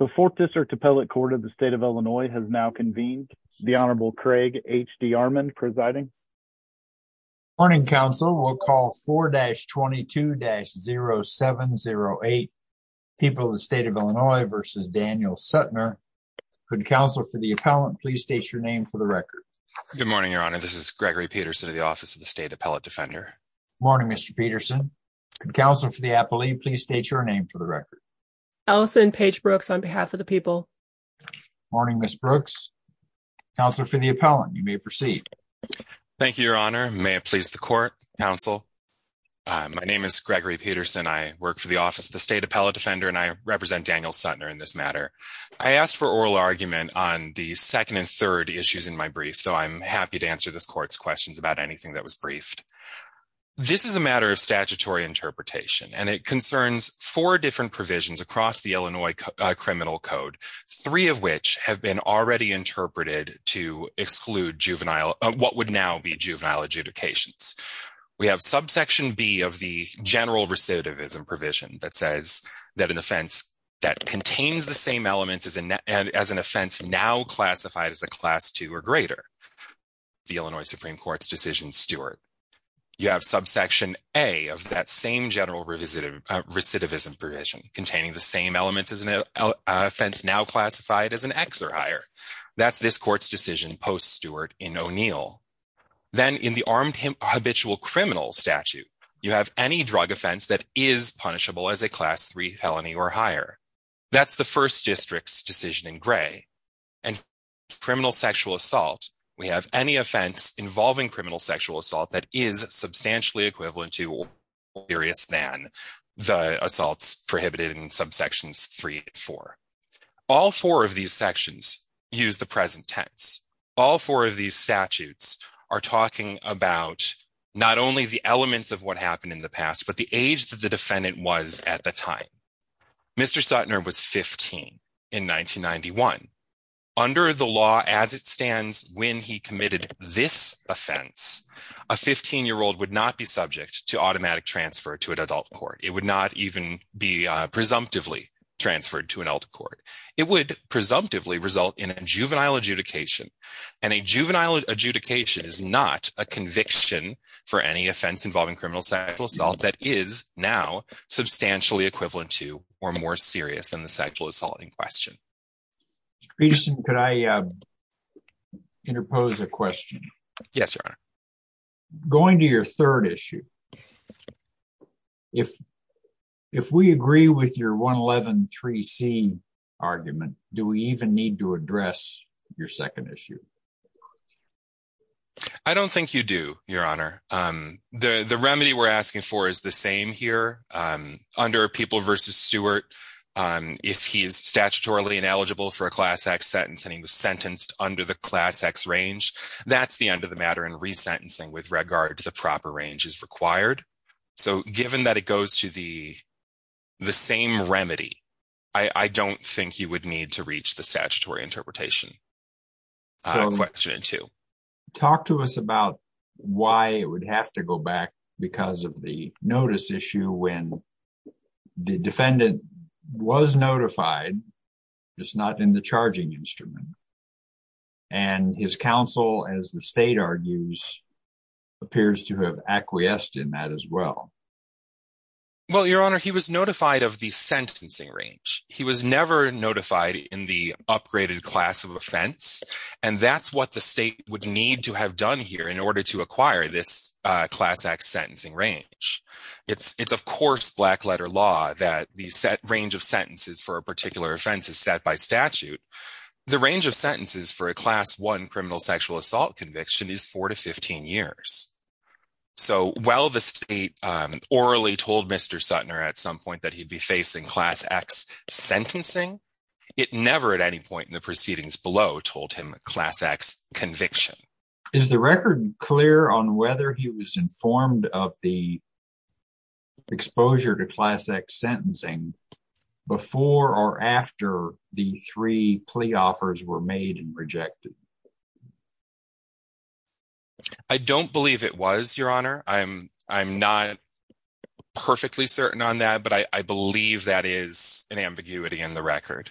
The 4th District Appellate Court of the State of Illinois has now convened. The Honorable Craig H.D. Armand presiding. Morning, Counsel. We'll call 4-22-0708, People of the State of Illinois v. Daniel Suttner. Could Counsel for the Appellant please state your name for the record? Good morning, Your Honor. This is Gregory Peterson of the Office of the State Appellate Defender. Morning, Mr. Peterson. Could Counsel for the Appellee please state your name for the record? Allison Paige Brooks on behalf of the people. Morning, Ms. Brooks. Counselor for the Appellant, you may proceed. Thank you, Your Honor. May it please the Court, Counsel. My name is Gregory Peterson. I work for the Office of the State Appellate Defender, and I represent Daniel Suttner in this matter. I asked for oral argument on the second and third issues in my brief, so I'm happy to answer this Court's questions about anything that was briefed. This is a matter of statutory interpretation, and it concerns four different provisions across the Illinois Criminal Code, three of which have been already interpreted to exclude what would now be juvenile adjudications. We have subsection B of the general recidivism provision that says that an offense that contains the same elements as an offense now classified as a Class II or you have subsection A of that same general recidivism provision containing the same elements as an offense now classified as an ex or higher. That's this Court's decision post-Stewart in O'Neill. Then in the armed habitual criminal statute, you have any drug offense that is punishable as a Class III felony or higher. That's the First District's decision in Gray. And criminal sexual assault, we have any offense involving criminal sexual assault that is substantially equivalent to or more serious than the assaults prohibited in subsections 3 and 4. All four of these sections use the present tense. All four of these statutes are talking about not only the elements of what happened in the past, but the age that the defendant was at the time. Mr. Sutner was 15 in 1991. Under the law as it stands when he committed this offense, a 15-year-old would not be subject to automatic transfer to an adult court. It would not even be presumptively transferred to an adult court. It would presumptively result in a juvenile adjudication. And a juvenile adjudication is not a conviction for any offense involving criminal sexual assault that is now substantially equivalent to or more serious than the sexual assault in question. Mr. Peterson, could I interpose a question? Yes, Your Honor. Going to your third issue, if we agree with your 111.3c argument, do we even need to address your second issue? I don't think you do, Your Honor. The remedy we're asking for is the same here. Under People v. Stewart, if he is statutorily ineligible for a Class X sentence and he was sentenced under the Class X range, that's the end of the matter and resentencing with regard to the proper range is required. So given that it goes to the same remedy, I don't think you would need to reach the statutory interpretation question in two. Talk to us about why it would have to go back because of the notice issue when the defendant was notified, just not in the charging instrument. And his counsel, as the state argues, appears to have acquiesced in that as well. Well, Your Honor, he was notified of the sentencing range. He was never notified in the upgraded class of offense, and that's what the state would need to have done here in order to acquire this Class X sentencing range. It's of course black letter law that the range of sentences for a particular offense is set by statute. The range of sentences for a Class I criminal sexual conviction is 4 to 15 years. So while the state orally told Mr. Sutner at some point that he'd be facing Class X sentencing, it never at any point in the proceedings below told him Class X conviction. Is the record clear on whether he was informed of the exposure to Class X sentencing before or after the three plea offers were made and rejected? I don't believe it was, Your Honor. I'm not perfectly certain on that, but I believe that is an ambiguity in the record.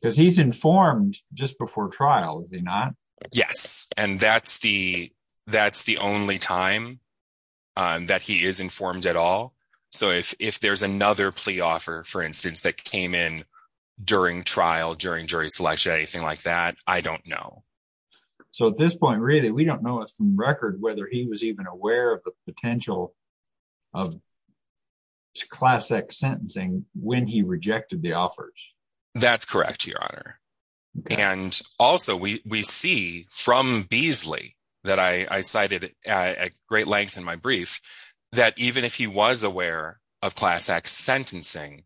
Because he's informed just before trial, is he not? Yes, and that's the only time that he is informed at all. So if there's another plea offer, for instance, that came in during trial, during jury selection, anything like that, I don't know. So at this point, really, we don't know from record whether he was even aware of the potential of Class X sentencing when he rejected the offers. That's correct, Your Honor. And also, we see from Beasley, that I cited at great length in my brief, that even if he was aware of Class X sentencing,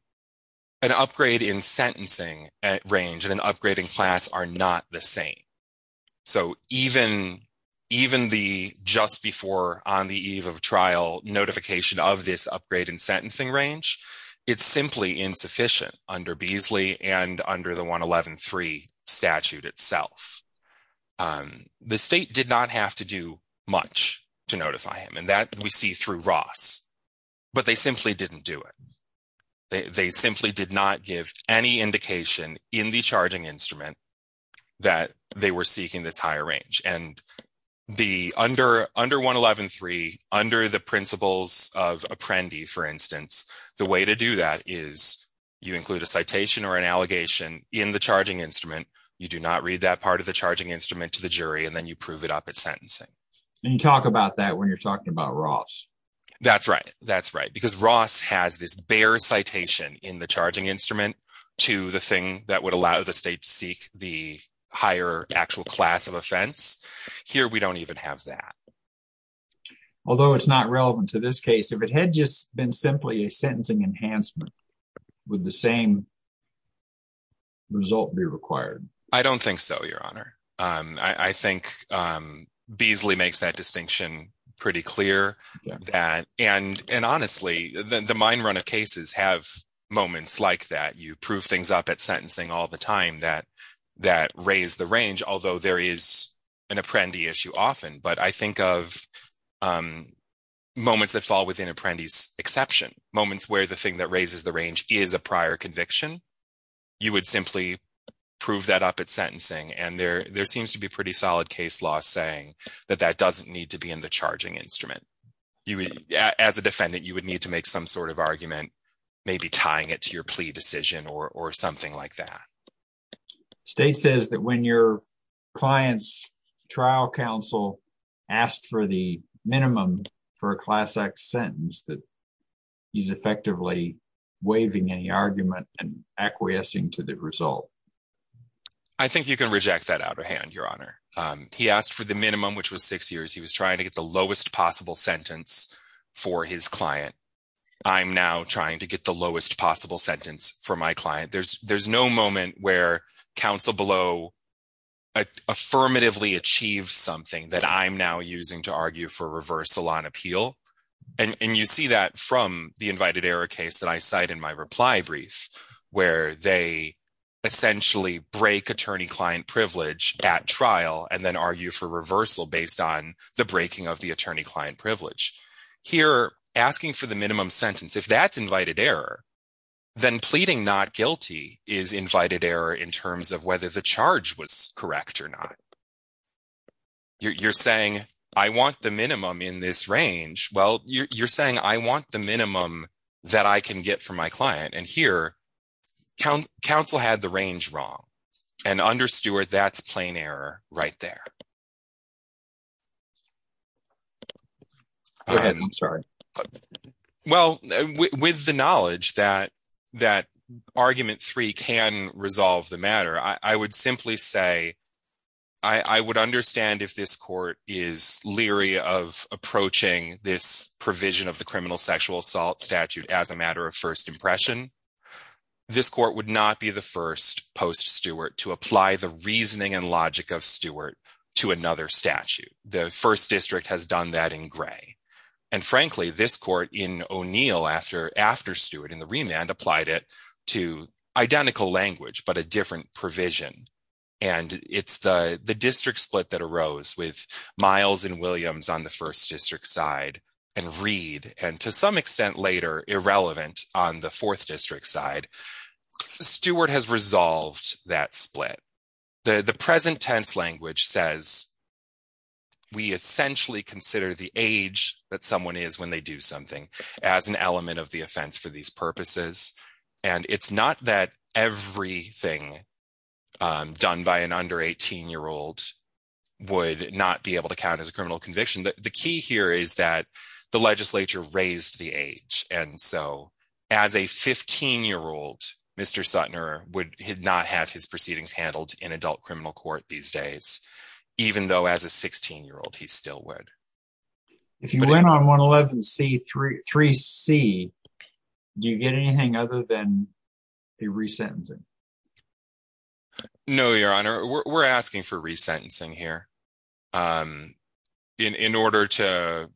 an upgrade in sentencing range and an upgrade in class are not the same. So even the just before on the eve of trial notification of this upgrade in sentencing range, it's simply insufficient under Beasley and under the 111.3 statute itself. The state did not have to do much to notify him, and that we see through Ross. But they simply didn't do it. They simply did not give any indication in the charging of Apprendi, for instance. The way to do that is you include a citation or an allegation in the charging instrument. You do not read that part of the charging instrument to the jury, and then you prove it up at sentencing. And you talk about that when you're talking about Ross. That's right. That's right. Because Ross has this bare citation in the charging instrument to the thing that would allow the state to seek the higher actual class of offense. Here, we don't even have that. Although it's not relevant to this case, if it had just been simply a sentencing enhancement, would the same result be required? I don't think so, Your Honor. I think Beasley makes that distinction pretty clear. And honestly, the mine run of cases have moments like that. You prove things up at sentencing all the time that raise the range, although there is an Apprendi issue often. But I think of moments that fall within Apprendi's exception, moments where the thing that raises the range is a prior conviction. You would simply prove that up at sentencing, and there seems to be pretty solid case law saying that that doesn't need to be in the charging instrument. As a defendant, you would need to make some sort of argument, maybe tying it to your plea decision or something like that. State says that when your client's trial counsel asked for the minimum for a class act sentence, that he's effectively waiving any argument and acquiescing to the result. I think you can reject that out of hand, Your Honor. He asked for the minimum, which was six years. He was trying to get the lowest possible sentence for his client. I'm now trying to get lowest possible sentence for my client. There's no moment where counsel below affirmatively achieves something that I'm now using to argue for reversal on appeal. And you see that from the invited error case that I cite in my reply brief, where they essentially break attorney-client privilege at trial and then argue for reversal based on the breaking of the attorney-client privilege. Here, asking for the minimum sentence, if that's invited error, then pleading not guilty is invited error in terms of whether the charge was correct or not. You're saying, I want the minimum in this range. Well, you're saying, I want the minimum that I can get for my client. And here, counsel had the range wrong. And under Stewart, that's plain error right there. Go ahead. I'm sorry. Well, with the knowledge that argument three can resolve the matter, I would simply say, I would understand if this court is leery of approaching this provision of the criminal sexual assault statute as a matter of first impression. This court would not be the first post-Stewart to apply the reasoning and logic of Stewart to another statute. The first district has done that in Gray. And frankly, this court in O'Neill after Stewart in the remand applied it to identical language, but a different provision. And it's the district split that arose with Miles and Williams on the first district side and Reed, and to some extent later, irrelevant on the fourth district side. Stewart has resolved that split. The present tense language says, we essentially consider the age that someone is when they do something as an element of the offense for these purposes. And it's not that everything done by an under 18-year-old would not be able to count as a criminal conviction. The key here is that the legislature raised the age. And so as a 15-year-old, Mr. Sutner would not have his proceedings handled in adult criminal court these days, even though as a 16-year-old, he still would. If you went on 111C3C, do you get anything other than the resentencing? No, Your Honor. We're asking for resentencing here. In order to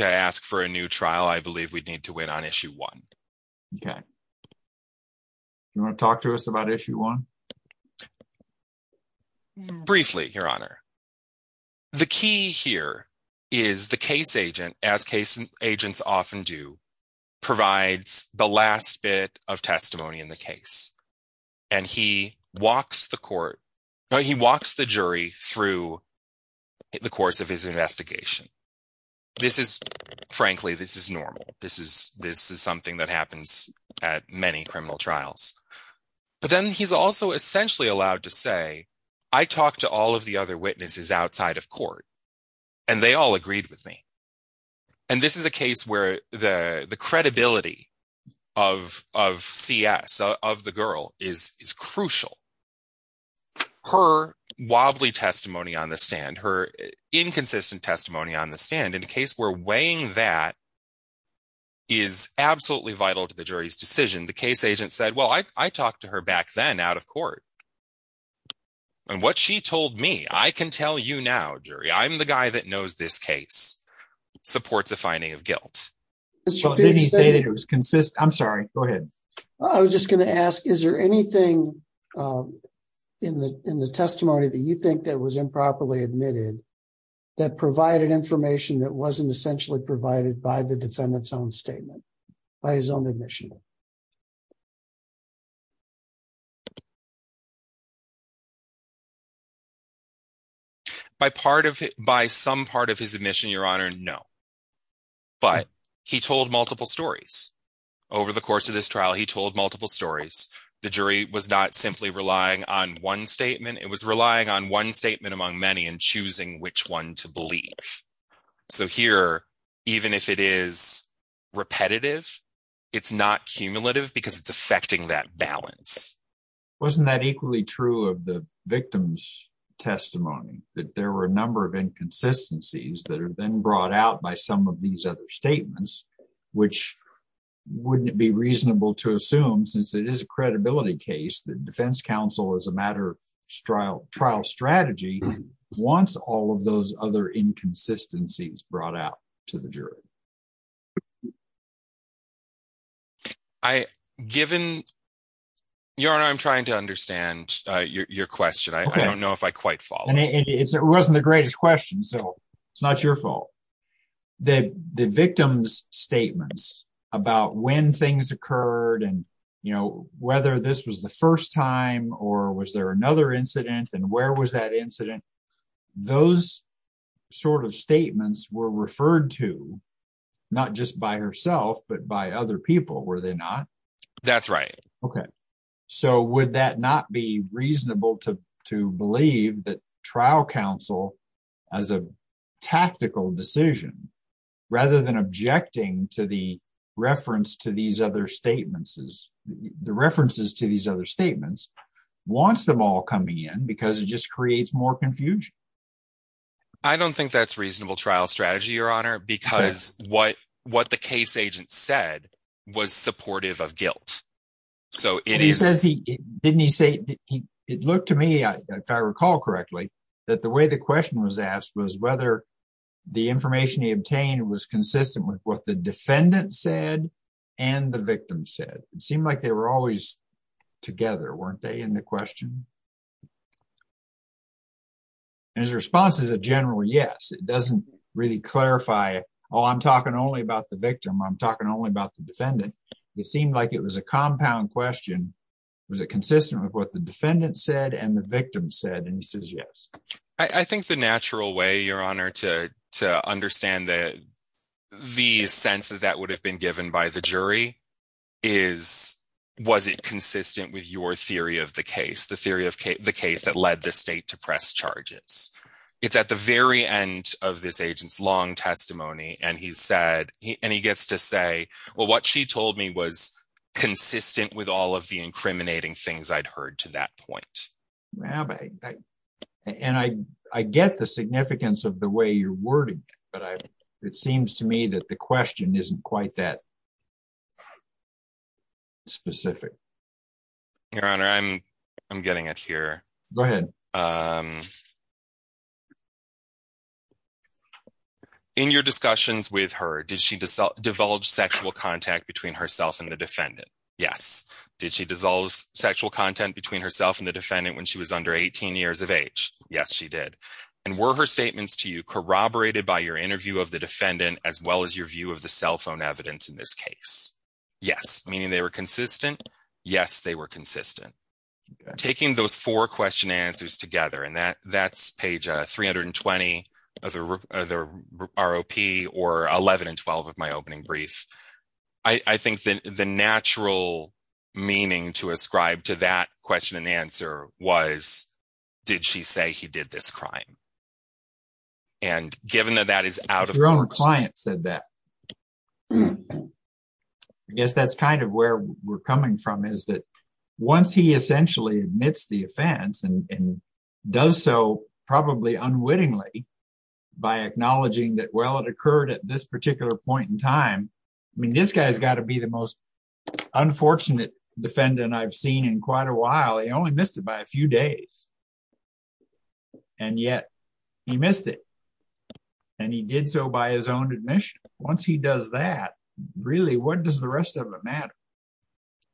ask for a new trial, I believe we'd need to wait on issue one. Okay. You want to talk to us about issue one? Briefly, Your Honor. The key here is the case agent, as case agents often do, provides the last bit of testimony in the case. And he walks the jury through the course of his investigation. Frankly, this is normal. This is something that happens at many criminal trials. But then he's also essentially allowed to say, I talked to all of the other witnesses outside of court, and they all agreed with me. And this is a credibility of CS, of the girl, is crucial. Her wobbly testimony on the stand, her inconsistent testimony on the stand, in a case where weighing that is absolutely vital to the jury's decision, the case agent said, well, I talked to her back then out of court. And what she told me, I can tell you now, jury, I'm the guy that knows this case, supports a finding of guilt. So did he say that it was consistent? I'm sorry, go ahead. I was just going to ask, is there anything in the testimony that you think that was improperly admitted, that provided information that wasn't essentially provided by the defendant's own statement, by his own admission? By part of it, by some part of his admission, Your Honor, no. But he told multiple stories. Over the course of this trial, he told multiple stories. The jury was not simply relying on one statement. It was relying on one statement among many and choosing which one to believe. So here, even if it is repetitive, it's not consistent. And so, it's not cumulative, because it's affecting that balance. Wasn't that equally true of the victim's testimony, that there were a number of inconsistencies that are then brought out by some of these other statements, which wouldn't be reasonable to assume since it is a credibility case, the defense counsel as a matter of trial strategy, wants all of those other inconsistencies brought out to the jury. Given, Your Honor, I'm trying to understand your question. I don't know if I quite follow. And it wasn't the greatest question, so it's not your fault. The victim's statements about when things occurred, and whether this was the first time, or was there another incident, and where was that incident? Those sort of statements were referred to, not just by herself, but by other people, were they not? That's right. Okay. So would that not be reasonable to believe that trial counsel, as a tactical decision, rather than objecting to the references to these other statements, wants them all coming in, because it just creates more confusion? I don't think that's reasonable trial strategy, Your Honor, because what the case agent said was supportive of guilt. So it is... He says he, didn't he say, it looked to me, if I recall correctly, that the way the question was asked was whether the information he obtained was consistent with what the defendant said, and the victim said. It seemed like they were always together, weren't they, in the question? His response is a general yes. It doesn't really clarify, oh, I'm talking only about the victim, I'm talking only about the defendant. It seemed like it was a compound question. Was it consistent with what the defendant said and the victim said? And he says yes. I think the natural way, Your Honor, to understand the sense that that would have been given by the jury is, was it consistent with your theory of the case, the theory of It's at the very end of this agent's long testimony, and he said, and he gets to say, well, what she told me was consistent with all of the incriminating things I'd heard to that point. And I get the significance of the way you're wording, but it seems to me that the question isn't quite that specific. Your Honor, I'm getting it here. Go ahead. In your discussions with her, did she divulge sexual contact between herself and the defendant? Yes. Did she dissolve sexual content between herself and the defendant when she was under 18 years of age? Yes, she did. And were her statements to you corroborated by your interview of the defendant as well as your view of the cell phone evidence in this case? Yes. Meaning they were consistent? Yes, they were consistent. Taking those four question answers together, and that's page 320 of the ROP or 11 and 12 of my opening brief, I think the natural meaning to ascribe to that question and answer was, did she say he did this crime? And given that that is out of the question. Your Honor, the client said that. I guess that's kind of where we're coming from, is that once he essentially admits the offense and does so probably unwittingly by acknowledging that, well, it occurred at this particular point in time. I mean, this guy's got to be the most unfortunate defendant I've seen in quite a while. He only missed it by a few days. And yet he missed it. And he did so by his own admission. Once he does that, really, what does the rest of it matter?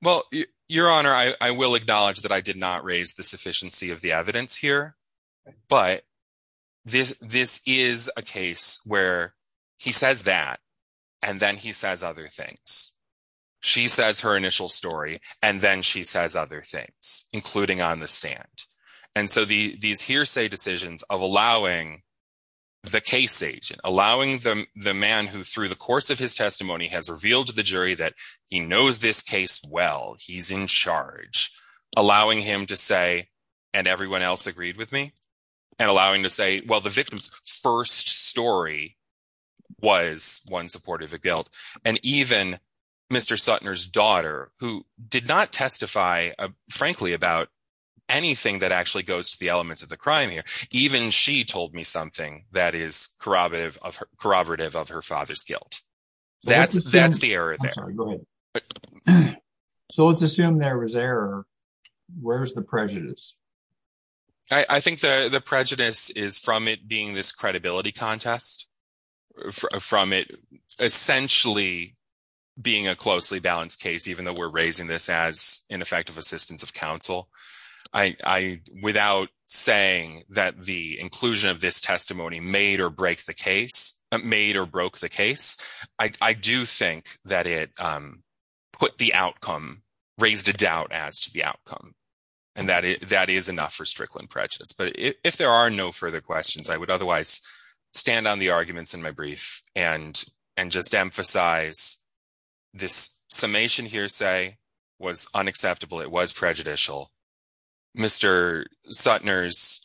Well, Your Honor, I will acknowledge that I did not raise the sufficiency of the evidence here. But this is a case where he says that, and then he says other things. She says her initial story, and then she says other things, including on the stand. And so these hearsay decisions of allowing the case agent, allowing the man who through the course of his testimony has revealed to the jury that he knows this case well, he's in charge, allowing him to say, and everyone else agreed with me, and allowing to say, well, the victim's first story was one supportive of guilt. And even Mr. Sutner's daughter, who did not testify, frankly, about anything that actually goes to the elements of the crime here, even she told me something that is corroborative of her father's guilt. That's the error there. I'm sorry, go ahead. So let's assume there was error. Where's the prejudice? I think the prejudice is from it being this credibility contest, from it essentially being a closely balanced case, even though we're raising this as ineffective assistance of counsel. Without saying that the inclusion of this testimony made or broke the case, I do think that it put the outcome, raised a doubt as to the outcome. And that is enough for Strickland prejudice. But if there are no further questions, I would was prejudicial. Mr. Sutner's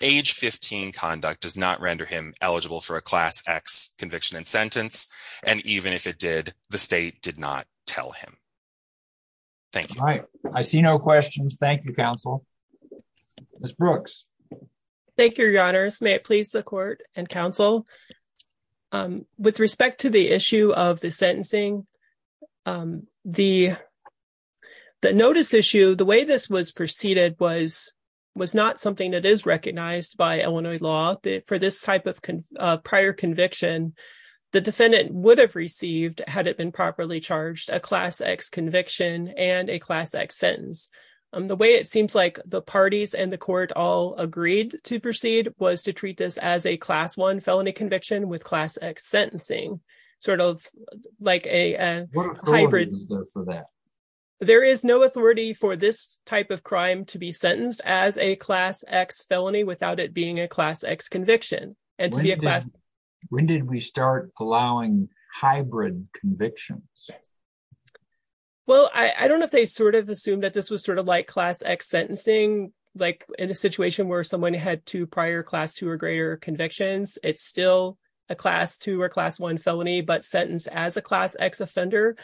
age 15 conduct does not render him eligible for a class X conviction and sentence. And even if it did, the state did not tell him. Thank you. All right. I see no questions. Thank you, counsel. Ms. Brooks. Thank you, your honors. May it please the court and counsel. With respect to the issue of the the notice issue, the way this was preceded was was not something that is recognized by Illinois law for this type of prior conviction. The defendant would have received, had it been properly charged, a class X conviction and a class X sentence. The way it seems like the parties and the court all agreed to proceed was to treat this as a class one felony conviction with class X that there is no authority for this type of crime to be sentenced as a class X felony without it being a class X conviction. And when did we start allowing hybrid convictions? Well, I don't know if they sort of assume that this was sort of like class X sentencing, like in a situation where someone had to prior class two or greater convictions. It's still a class two or class one felony, but sentenced as a class X offender.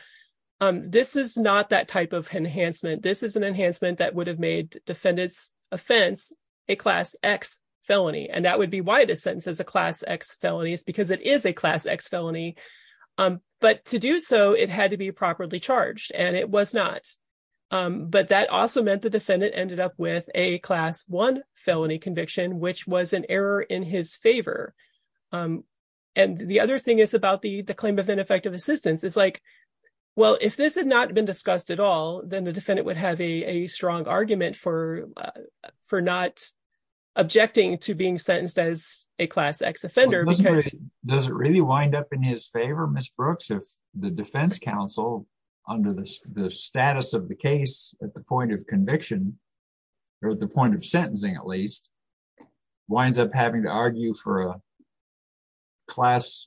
This is not that type of enhancement. This is an enhancement that would have made defendant's offense a class X felony. And that would be why the sentence is a class X felony is because it is a class X felony. But to do so, it had to be properly charged and it was not. But that also meant the defendant ended up with a class one felony conviction, which was an error in his favor. And the other thing is about the claim of ineffective assistance is like, well, if this had not been discussed at all, then the defendant would have a strong argument for for not objecting to being sentenced as a class X offender. Does it really wind up in his favor, Ms. Brooks, if the defense counsel under the status of the point of conviction or the point of sentencing, at least winds up having to argue for a class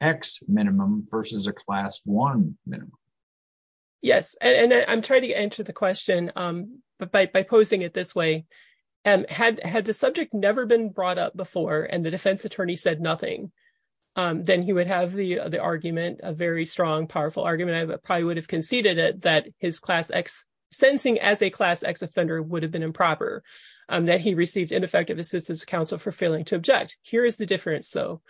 X minimum versus a class one minimum? Yes. And I'm trying to answer the question, but by posing it this way, had the subject never been brought up before and the defense attorney said nothing, then he would have the argument, a very strong, powerful argument. I probably would have conceded that his class X sentencing as a class X offender would have been improper, that he received ineffective assistance counsel for failing to object. Here is the difference, though.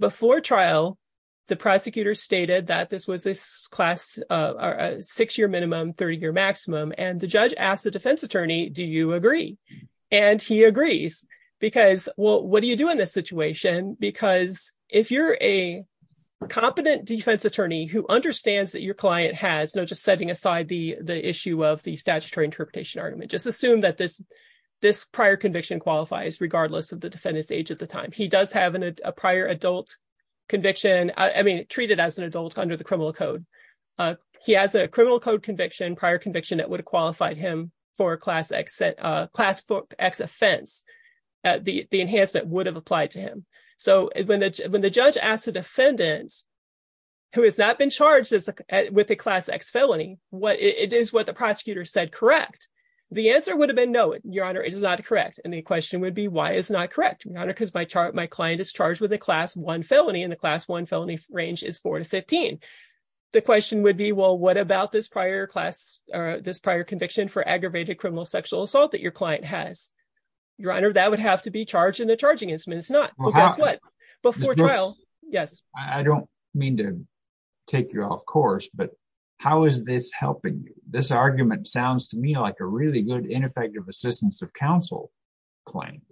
Before trial, the prosecutor stated that this was this class, a six year minimum, 30 year maximum. And the judge asked the defense attorney, do you agree? And he agrees because, well, what do you do in this situation? Because if you're a competent defense attorney who understands that your client has, just setting aside the issue of the statutory interpretation argument, just assume that this prior conviction qualifies regardless of the defendant's age at the time. He does have a prior adult conviction, I mean, treated as an adult under the criminal code. He has a criminal code conviction, prior conviction that would have qualified him for a class X offense. The enhancement would have applied to him. So when the judge asked defendants who has not been charged with a class X felony, it is what the prosecutor said correct. The answer would have been no, your honor, it is not correct. And the question would be, why is not correct? Because my client is charged with a class one felony and the class one felony range is four to 15. The question would be, well, what about this prior class or this prior conviction for aggravated criminal sexual assault that your client has? Your honor, that would have to be charged in the charging instrument. It's not before trial. Yes. I don't mean to take you off course, but how is this helping you? This argument sounds to me like a really good ineffective assistance of counsel claim.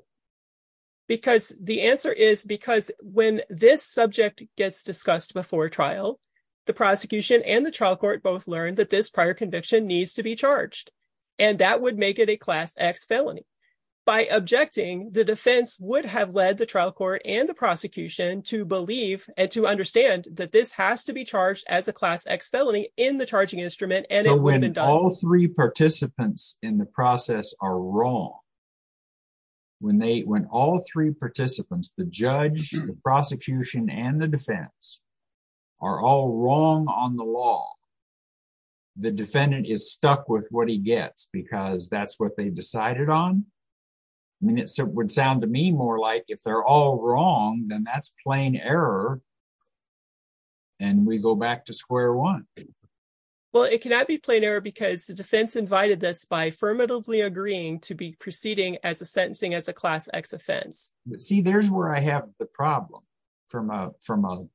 Because the answer is because when this subject gets discussed before trial, the prosecution and the trial court both learned that this prior conviction needs to be led the trial court and the prosecution to believe and to understand that this has to be charged as a class X felony in the charging instrument. And when all three participants in the process are wrong, when they, when all three participants, the judge, the prosecution, and the defense are all wrong on the law, the defendant is stuck with what he gets because that's what they decided on. I mean, it would sound to me more like if they're all wrong, then that's plain error. And we go back to square one. Well, it cannot be plain error because the defense invited this by affirmatively agreeing to be proceeding as a sentencing as a class X offense. See, there's where I have the problem from a, from a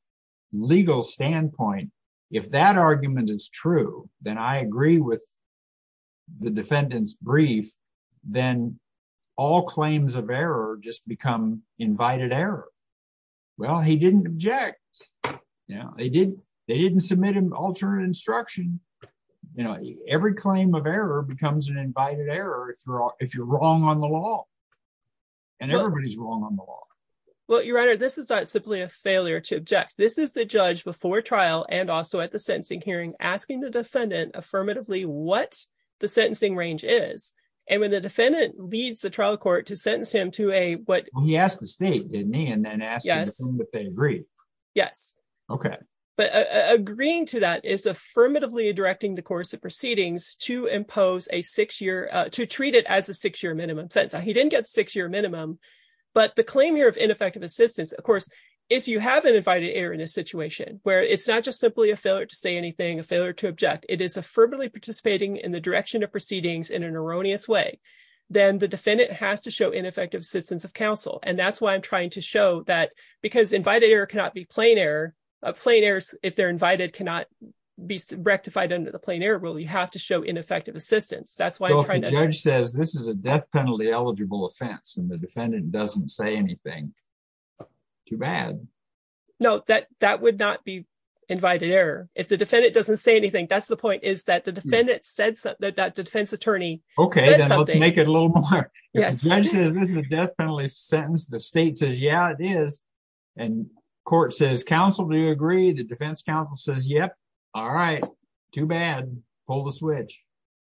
legal standpoint. If that argument is true, then I agree with the defendant's brief. Then all claims of error just become invited error. Well, he didn't object. Yeah, they did. They didn't submit an alternate instruction. You know, every claim of error becomes an invited error if you're wrong on the law and everybody's wrong on the law. Well, your honor, this is not simply a failure to object. This is the judge before trial and also at the sentencing hearing, asking the defendant affirmatively what the sentencing range is. And when the defendant leads the trial court to sentence him to a, what he asked the state didn't he? And then asked if they agree. Yes. Okay. But agreeing to that is affirmatively directing the course of proceedings to impose a six year, to treat it as a six year minimum sentence. He didn't get six year minimum, but the claim here effective assistance. Of course, if you have an invited error in a situation where it's not just simply a failure to say anything, a failure to object, it is a firmly participating in the direction of proceedings in an erroneous way. Then the defendant has to show ineffective assistance of counsel. And that's why I'm trying to show that because invited error cannot be plain error of plain errors. If they're invited, cannot be rectified under the plain error rule. You have to show ineffective assistance. That's why the judge says this is a death penalty eligible offense and the defendant doesn't say anything. Too bad. No, that, that would not be invited error. If the defendant doesn't say anything, that's the point is that the defendant said that the defense attorney. Okay. Then let's make it a little more. This is a death penalty sentence. The state says, yeah, it is. And court says, counsel, do you agree? The defense counsel says, yep. All right. Too bad. Pull the switch.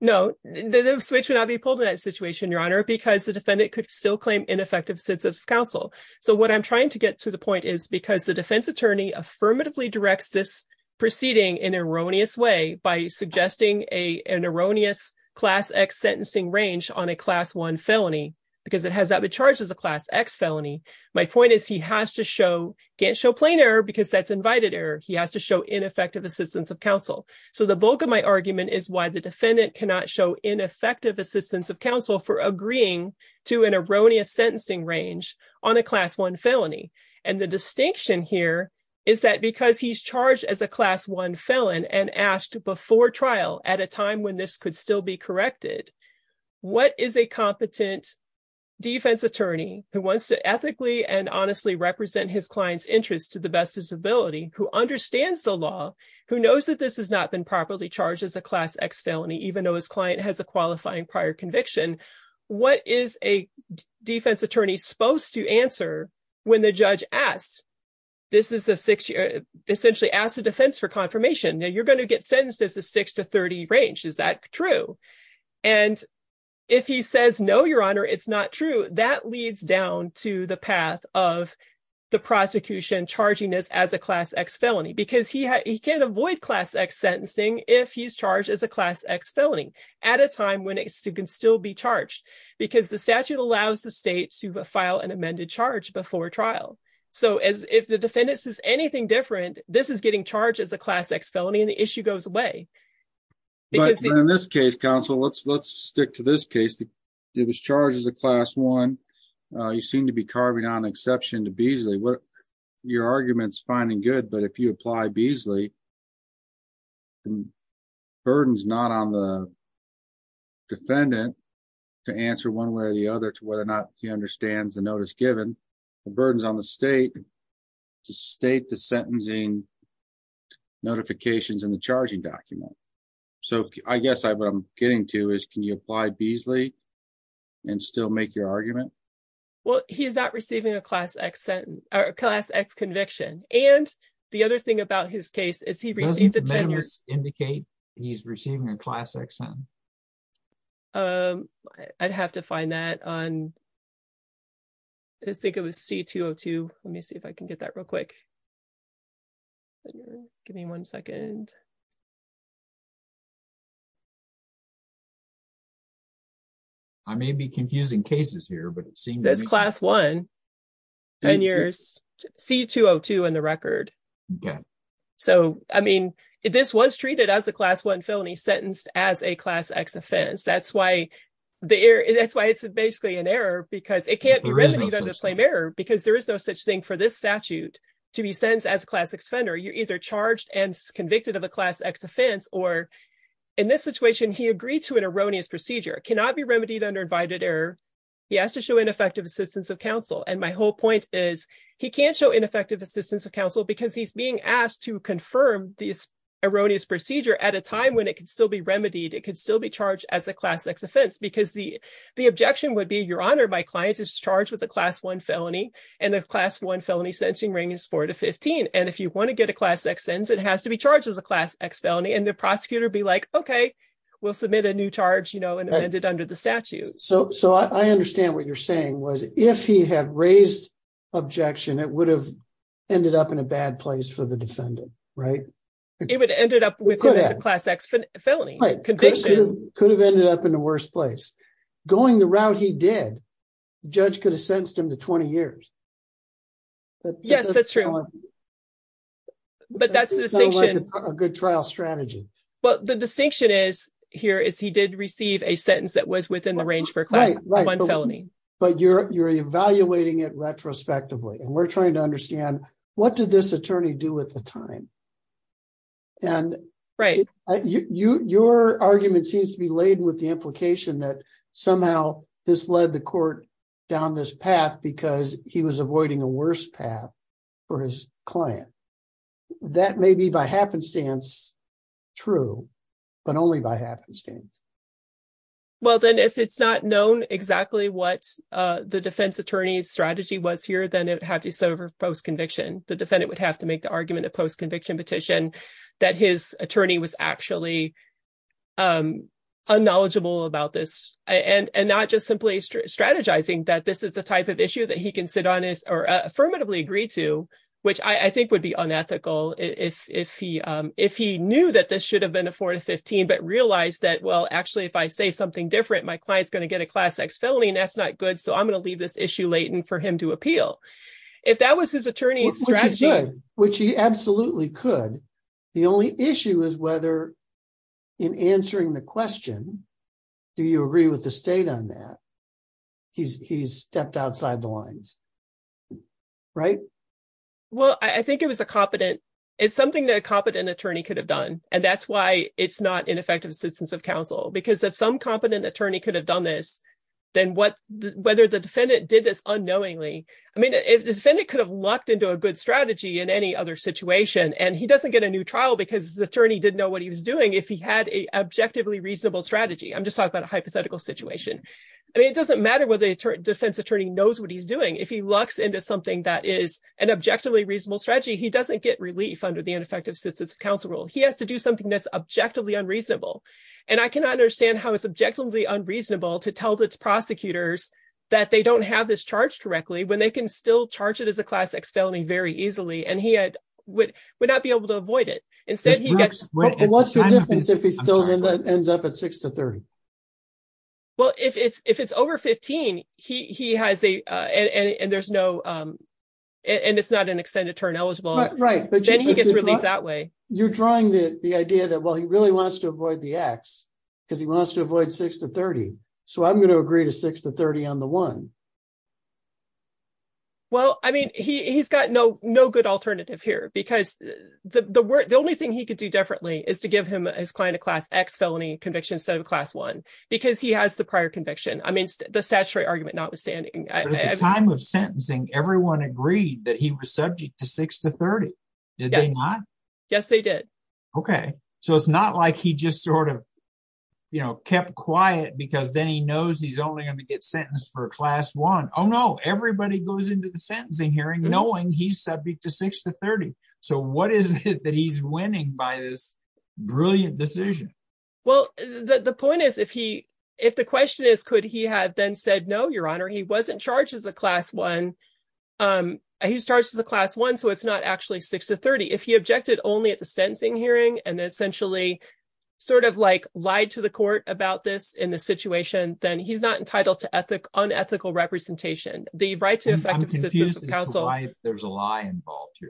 No, the switch would not be pulled in that situation, your honor, because the defendant could still claim ineffective sense of counsel. So what I'm trying to get to the point is because the defense attorney affirmatively directs this proceeding in an erroneous way by suggesting a, an erroneous class X sentencing range on a class one felony, because it has not been charged as a class X felony. My point is he has to show, can't show plain error because that's invited error. He has to show ineffective assistance of counsel. So the bulk of my argument is why the defendant cannot show ineffective assistance of counsel for agreeing to an erroneous sentencing range on a class one felony. And the distinction here is that because he's charged as a class one felon and asked before trial at a time when this could still be corrected, what is a competent defense attorney who wants to ethically and honestly represent his client's interest to the best of his ability, who understands the law, who knows that this has not been properly charged as a class X felony, even though his client has a qualifying prior conviction. What is a defense attorney supposed to answer when the judge asks, this is a six year, essentially ask the defense for confirmation. Now you're going to get sentenced as a six to 30 range. Is that true? And if he says, no, your honor, it's not true. That leads down to the path of the prosecution charging us as a class X felony because he can't avoid class X sentencing. If he's charged as a class X felony at a time when it can still be charged because the statute allows the state to file an amended charge before trial. So as if the defendants is anything different, this is getting charged as a class X felony. And the issue goes away. In this case, counsel, let's, let's stick to this case. It was charged as a class one. You seem to be carving on exception to Beasley. What arguments finding good, but if you apply Beasley, burdens, not on the defendant to answer one way or the other to whether or not he understands the notice given the burdens on the state to state the sentencing notifications in the charging document. So I guess I, what I'm getting to is, can you apply Beasley and still make your argument? Well, he's not receiving a class X sentence or class X conviction. And the other thing about his case is he received the tenors indicate he's receiving a class X. I'd have to find that on. I just think it was C202. Let me see if I can get that real quick. Give me one second. I may be confusing cases here, but it seems that's class one and yours. C202 in the record. Okay. So, I mean, this was treated as a class one felony sentenced as a class X offense. That's why the air is that's why it's basically an error because it can't be remedied under the flame error because there is no such thing for this statute to be sentenced as a class X offender. The class X offense, or in this situation, he agreed to an erroneous procedure cannot be remedied under invited error. He has to show ineffective assistance of counsel. And my whole point is he can't show ineffective assistance of counsel because he's being asked to confirm this erroneous procedure at a time when it can still be remedied. It could still be charged as a class X offense because the, the objection would be your honor. My client is charged with a class one felony and a class one felony sentencing range is four to 15. And if you want to get a class X sentence, it has to be charged as a class X felony. And the prosecutor be like, okay, we'll submit a new charge, you know, and amend it under the statute. So, so I understand what you're saying was if he had raised objection, it would have ended up in a bad place for the defendant, right? It would ended up with a class X felony conviction could have ended up in the worst place going the route. He did judge could have him to 20 years. Yes, that's true. But that's a good trial strategy. But the distinction is here is he did receive a sentence that was within the range for class one felony. But you're, you're evaluating it retrospectively. And we're trying to understand what did this attorney do at the time? And your argument seems to be laden with the implication that somehow this led the court down this path, because he was avoiding a worse path for his client. That may be by happenstance, true, but only by happenstance. Well, then if it's not known exactly what the defense attorney's strategy was here, then it had to serve her post conviction, the defendant would have to make the argument of conviction petition, that his attorney was actually unknowledgeable about this, and not just simply strategizing that this is the type of issue that he can sit on is or affirmatively agreed to, which I think would be unethical if he, if he knew that this should have been a four to 15. But realize that, well, actually, if I say something different, my client's going to get a class X felony, and that's not good. So I'm going to leave this issue for him to appeal. If that was his attorney's strategy, which he absolutely could. The only issue is whether in answering the question, do you agree with the state on that? He's stepped outside the lines. Right? Well, I think it was a competent, it's something that a competent attorney could have done. And that's why it's not ineffective assistance of counsel. Because if some competent attorney could have done this, then what whether the defendant did this unknowingly, I mean, if the defendant could have lucked into a good strategy in any other situation, and he doesn't get a new trial, because the attorney didn't know what he was doing. If he had a objectively reasonable strategy, I'm just talking about a hypothetical situation. And it doesn't matter whether the defense attorney knows what he's doing. If he locks into something that is an objectively reasonable strategy, he doesn't get relief under the ineffective assistance of counsel rule, he has to do something that's objectively unreasonable. And I cannot understand how it's objectively unreasonable to tell the prosecutors that they don't have this charge correctly when they can still charge it as a class X felony very easily, and he had would would not be able to avoid it. Instead, he gets what's the difference if he still ends up at six to 30? Well, if it's if it's over 15, he has a and there's no and it's not an extended term eligible, right? But then he gets released that way. You're drawing the idea that he really wants to avoid the X, because he wants to avoid six to 30. So I'm going to agree to six to 30 on the one. Well, I mean, he's got no no good alternative here, because the only thing he could do differently is to give him his client a class X felony conviction instead of class one, because he has the prior conviction. I mean, the statutory argument notwithstanding, time of sentencing, everyone agreed that he was subject to six to 30. Did they not? Yes, they did. Okay, so it's not like he just sort of, you know, kept quiet, because then he knows he's only going to get sentenced for a class one. Oh, no, everybody goes into the sentencing hearing knowing he's subject to six to 30. So what is it that he's winning by this brilliant decision? Well, the point is, if he if the question is, could he have then said no, Your Honor, he wasn't charged as a class one. He's charged as a class one. So it's not actually six to 30. If he objected only at the sentencing hearing, and essentially, sort of like lied to the court about this in the situation, then he's not entitled to ethic unethical representation, the right to effective. There's a lie.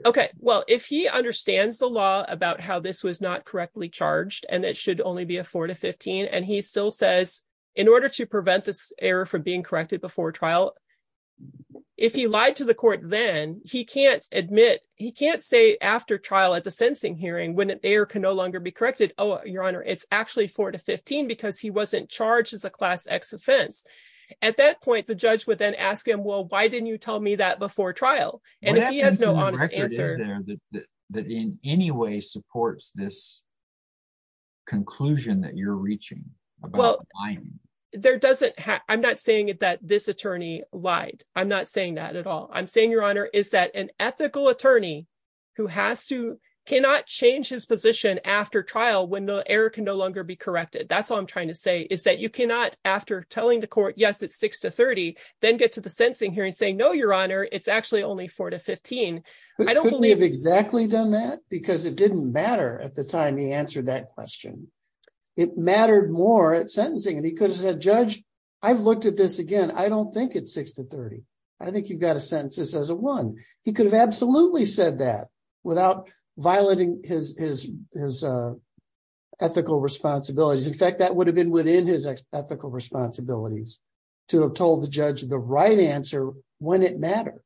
Okay, well, if he understands the law about how this was not correctly charged, and it should only be a four to 15. And he still says, in order to prevent this error from being corrected before trial. If he lied to the court, then he can't admit he can't say after trial at the sentencing hearing when it there can no longer be corrected. Oh, Your Honor, it's actually four to 15. Because he wasn't charged as a class x offense. At that point, the judge would then ask him, well, why didn't you tell me that before trial? And he has no answer there that that in any way supports this conclusion that you're reaching? Well, there doesn't have I'm not saying that this attorney lied. I'm not saying that at I'm saying Your Honor is that an ethical attorney who has to cannot change his position after trial when the error can no longer be corrected. That's all I'm trying to say is that you cannot after telling the court, yes, it's six to 30, then get to the sentencing hearing saying no, Your Honor, it's actually only four to 15. I don't believe exactly done that, because it didn't matter at the time he answered that question. It mattered more at sentencing because the judge, I've looked at this again, I don't think it's six to 30. I think you've got to sentence this as a one, he could have absolutely said that without violating his his his ethical responsibilities. In fact, that would have been within his ethical responsibilities to have told the judge the right answer when it mattered.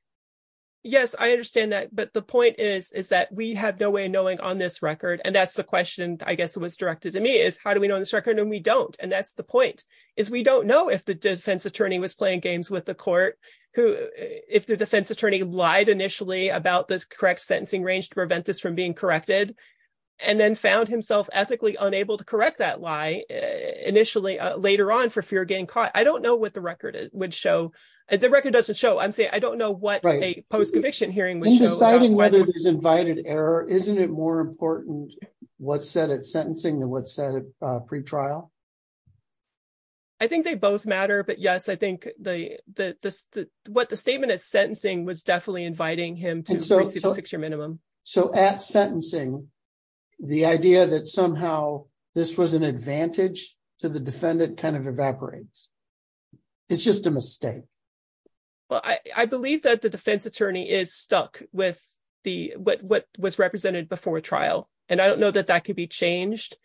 Yes, I understand that. But the point is, is that we have no way of knowing on this record. And that's the question, I guess it was directed to me is how do we know this record and we don't. And that's the point is we don't know if the defense attorney was playing games with the court, who if the defense attorney lied initially about this correct sentencing range to prevent this from being corrected, and then found himself ethically unable to correct that lie. Initially, later on for fear of getting caught, I don't know what the record would show. And the record doesn't show I'm saying I don't know what a post conviction hearing was deciding whether it was invited error, isn't it more important? What set at sentencing than what pre trial? I think they both matter. But yes, I think the the what the statement is sentencing was definitely inviting him to the six year minimum. So at sentencing, the idea that somehow this was an advantage to the defendant kind of evaporates. It's just a mistake. Well, I believe that the defense attorney is stuck with the what was represented before trial. And I don't know that that could be changed.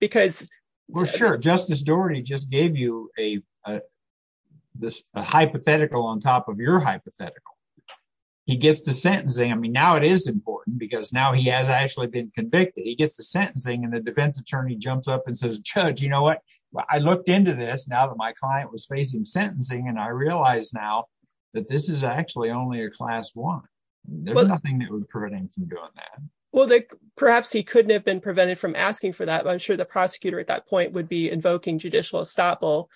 Because we're sure Justice Doherty just gave you a this hypothetical on top of your hypothetical. He gets to sentencing. I mean, now it is important because now he has actually been convicted, he gets to sentencing and the defense attorney jumps up and says, Judge, you know what, I looked into this now that my client was facing sentencing, and I realized now that this is actually only a class one. There's nothing that would prevent him from doing that. Well, that perhaps he couldn't have been prevented from asking for that. But I'm sure the prosecutor at that point would be invoking judicial estoppel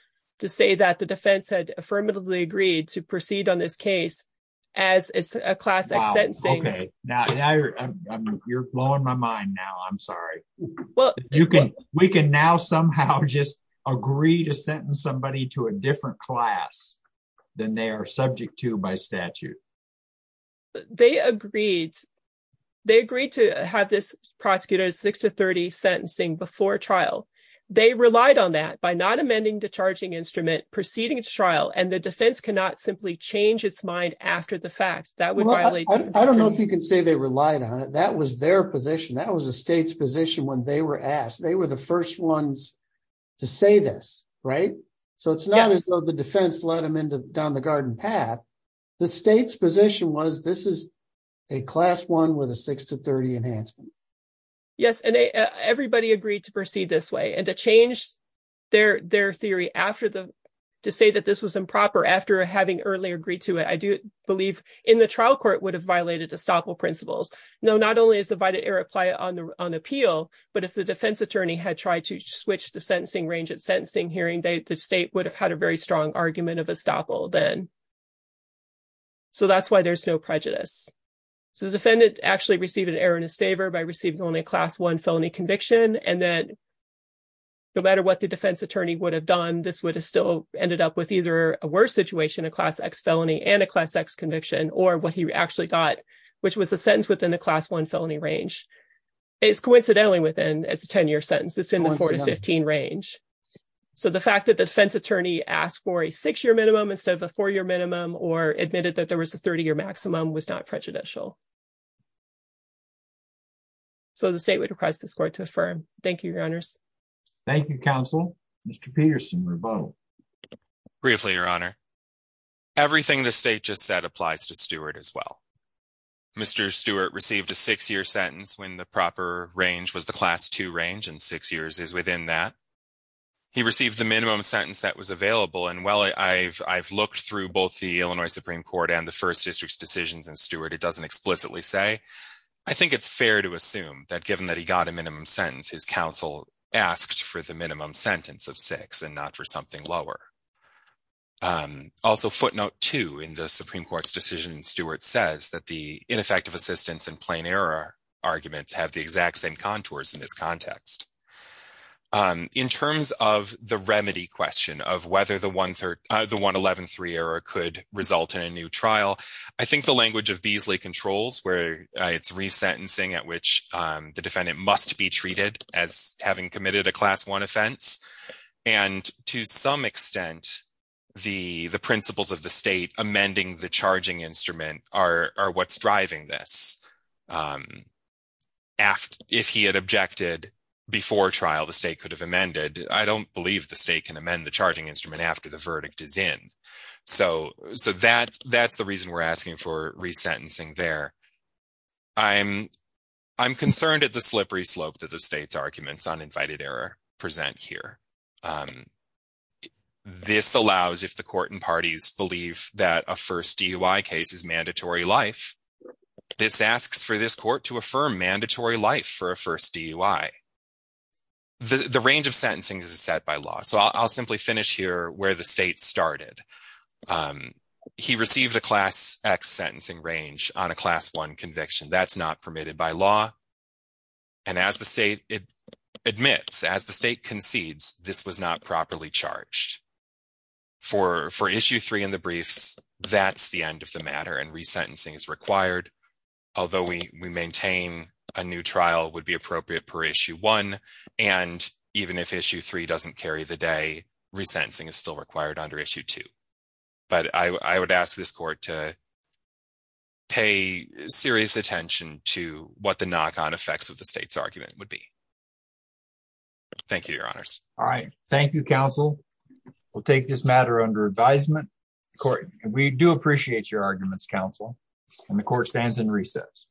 to say that the defense had affirmatively agreed to proceed on this case. As a classic sentence. Okay, now you're blowing my mind now. I'm sorry. Well, you can we can now somehow just agree to sentence somebody to a different class than they are subject to by statute. But they agreed. They agreed to have this prosecutor six to 30 sentencing before trial. They relied on that by not amending the charging instrument proceeding to trial and the defense cannot simply change its mind after the fact that would violate. I don't know if you can say they relied on it. That was their position. That was a state's position when they were asked. They were the first ones to say this, right? So it's not as though the defense led them into down the garden path. The state's position was this is a class one with a six to 30 enhancement. Yes, and everybody agreed to proceed this way and to change their their theory after the to say that this was improper after having earlier agreed to it. I do believe in the trial court would have violated to stop all principles. No, not only is the by the air apply on the on appeal, but if the defense attorney had tried to switch the sentencing range at sentencing hearing, the state would have had a very strong argument of estoppel then. So that's why there's no prejudice. So the defendant actually received an error in his favor by receiving only a class one felony conviction and that no matter what the defense attorney would have done, this would have still ended up with either a worse situation, a class X felony and a class X conviction or what he actually got, which was a sentence within the class one felony range. It's coincidentally within as a 10 year sentence. It's in the 4 to 15 range. So the fact that the defense attorney asked for a six year minimum instead of a four year minimum or admitted that there was a 30 year maximum was not prejudicial. So the state would request this court to affirm. Thank you, your honors. Thank you, counsel. Mr. Peterson rebuttal. Briefly, your honor. Everything the state just said applies to Stewart as well. Mr. Stewart received a six year sentence when the proper range was the class two range and six years is within that. He received the minimum sentence that was available. And while I've looked through both the Illinois Supreme Court and the first district's decisions and Stewart, it doesn't explicitly say. I think it's fair to assume that given that he got a minimum sentence, his counsel asked for the minimum sentence of six and not for something lower. Also, footnote two in the Supreme Court's decision, Stewart says that the ineffective assistance in plain error arguments have the exact same contours in this context. In terms of the remedy question of whether the 113 error could result in a new trial, I think the language of Beasley controls where it's resentencing at which the defendant must be treated as having committed a class one offense. And to some extent, the principles of the state amending the charging instrument are what's driving this. If he had objected before trial, the state could have amended. I don't believe the state can amend the charging instrument after the verdict is in. So that's the reason we're asking for resentencing there. I'm concerned at the slippery slope that the state's arguments on invited error present here. This allows, if the court and parties believe that a first DUI case is mandatory life, this asks for this court to affirm mandatory life for a first DUI. The range of sentencing is set by law. So I'll simply finish here where the state started. He received a class X sentencing range on a class one conviction. That's not permitted by law. And as the state admits, as the state concedes, this was not properly charged. For issue three in the briefs, that's the end of the matter and resentencing is required. Although we maintain a new trial would be appropriate per issue one. And even if issue three doesn't carry the day, resentencing is still required under issue two. But I would ask this to what the knock on effects of the state's argument would be. Thank you, your honors. All right. Thank you, counsel. We'll take this matter under advisement. We do appreciate your arguments, counsel, and the court stands in recess.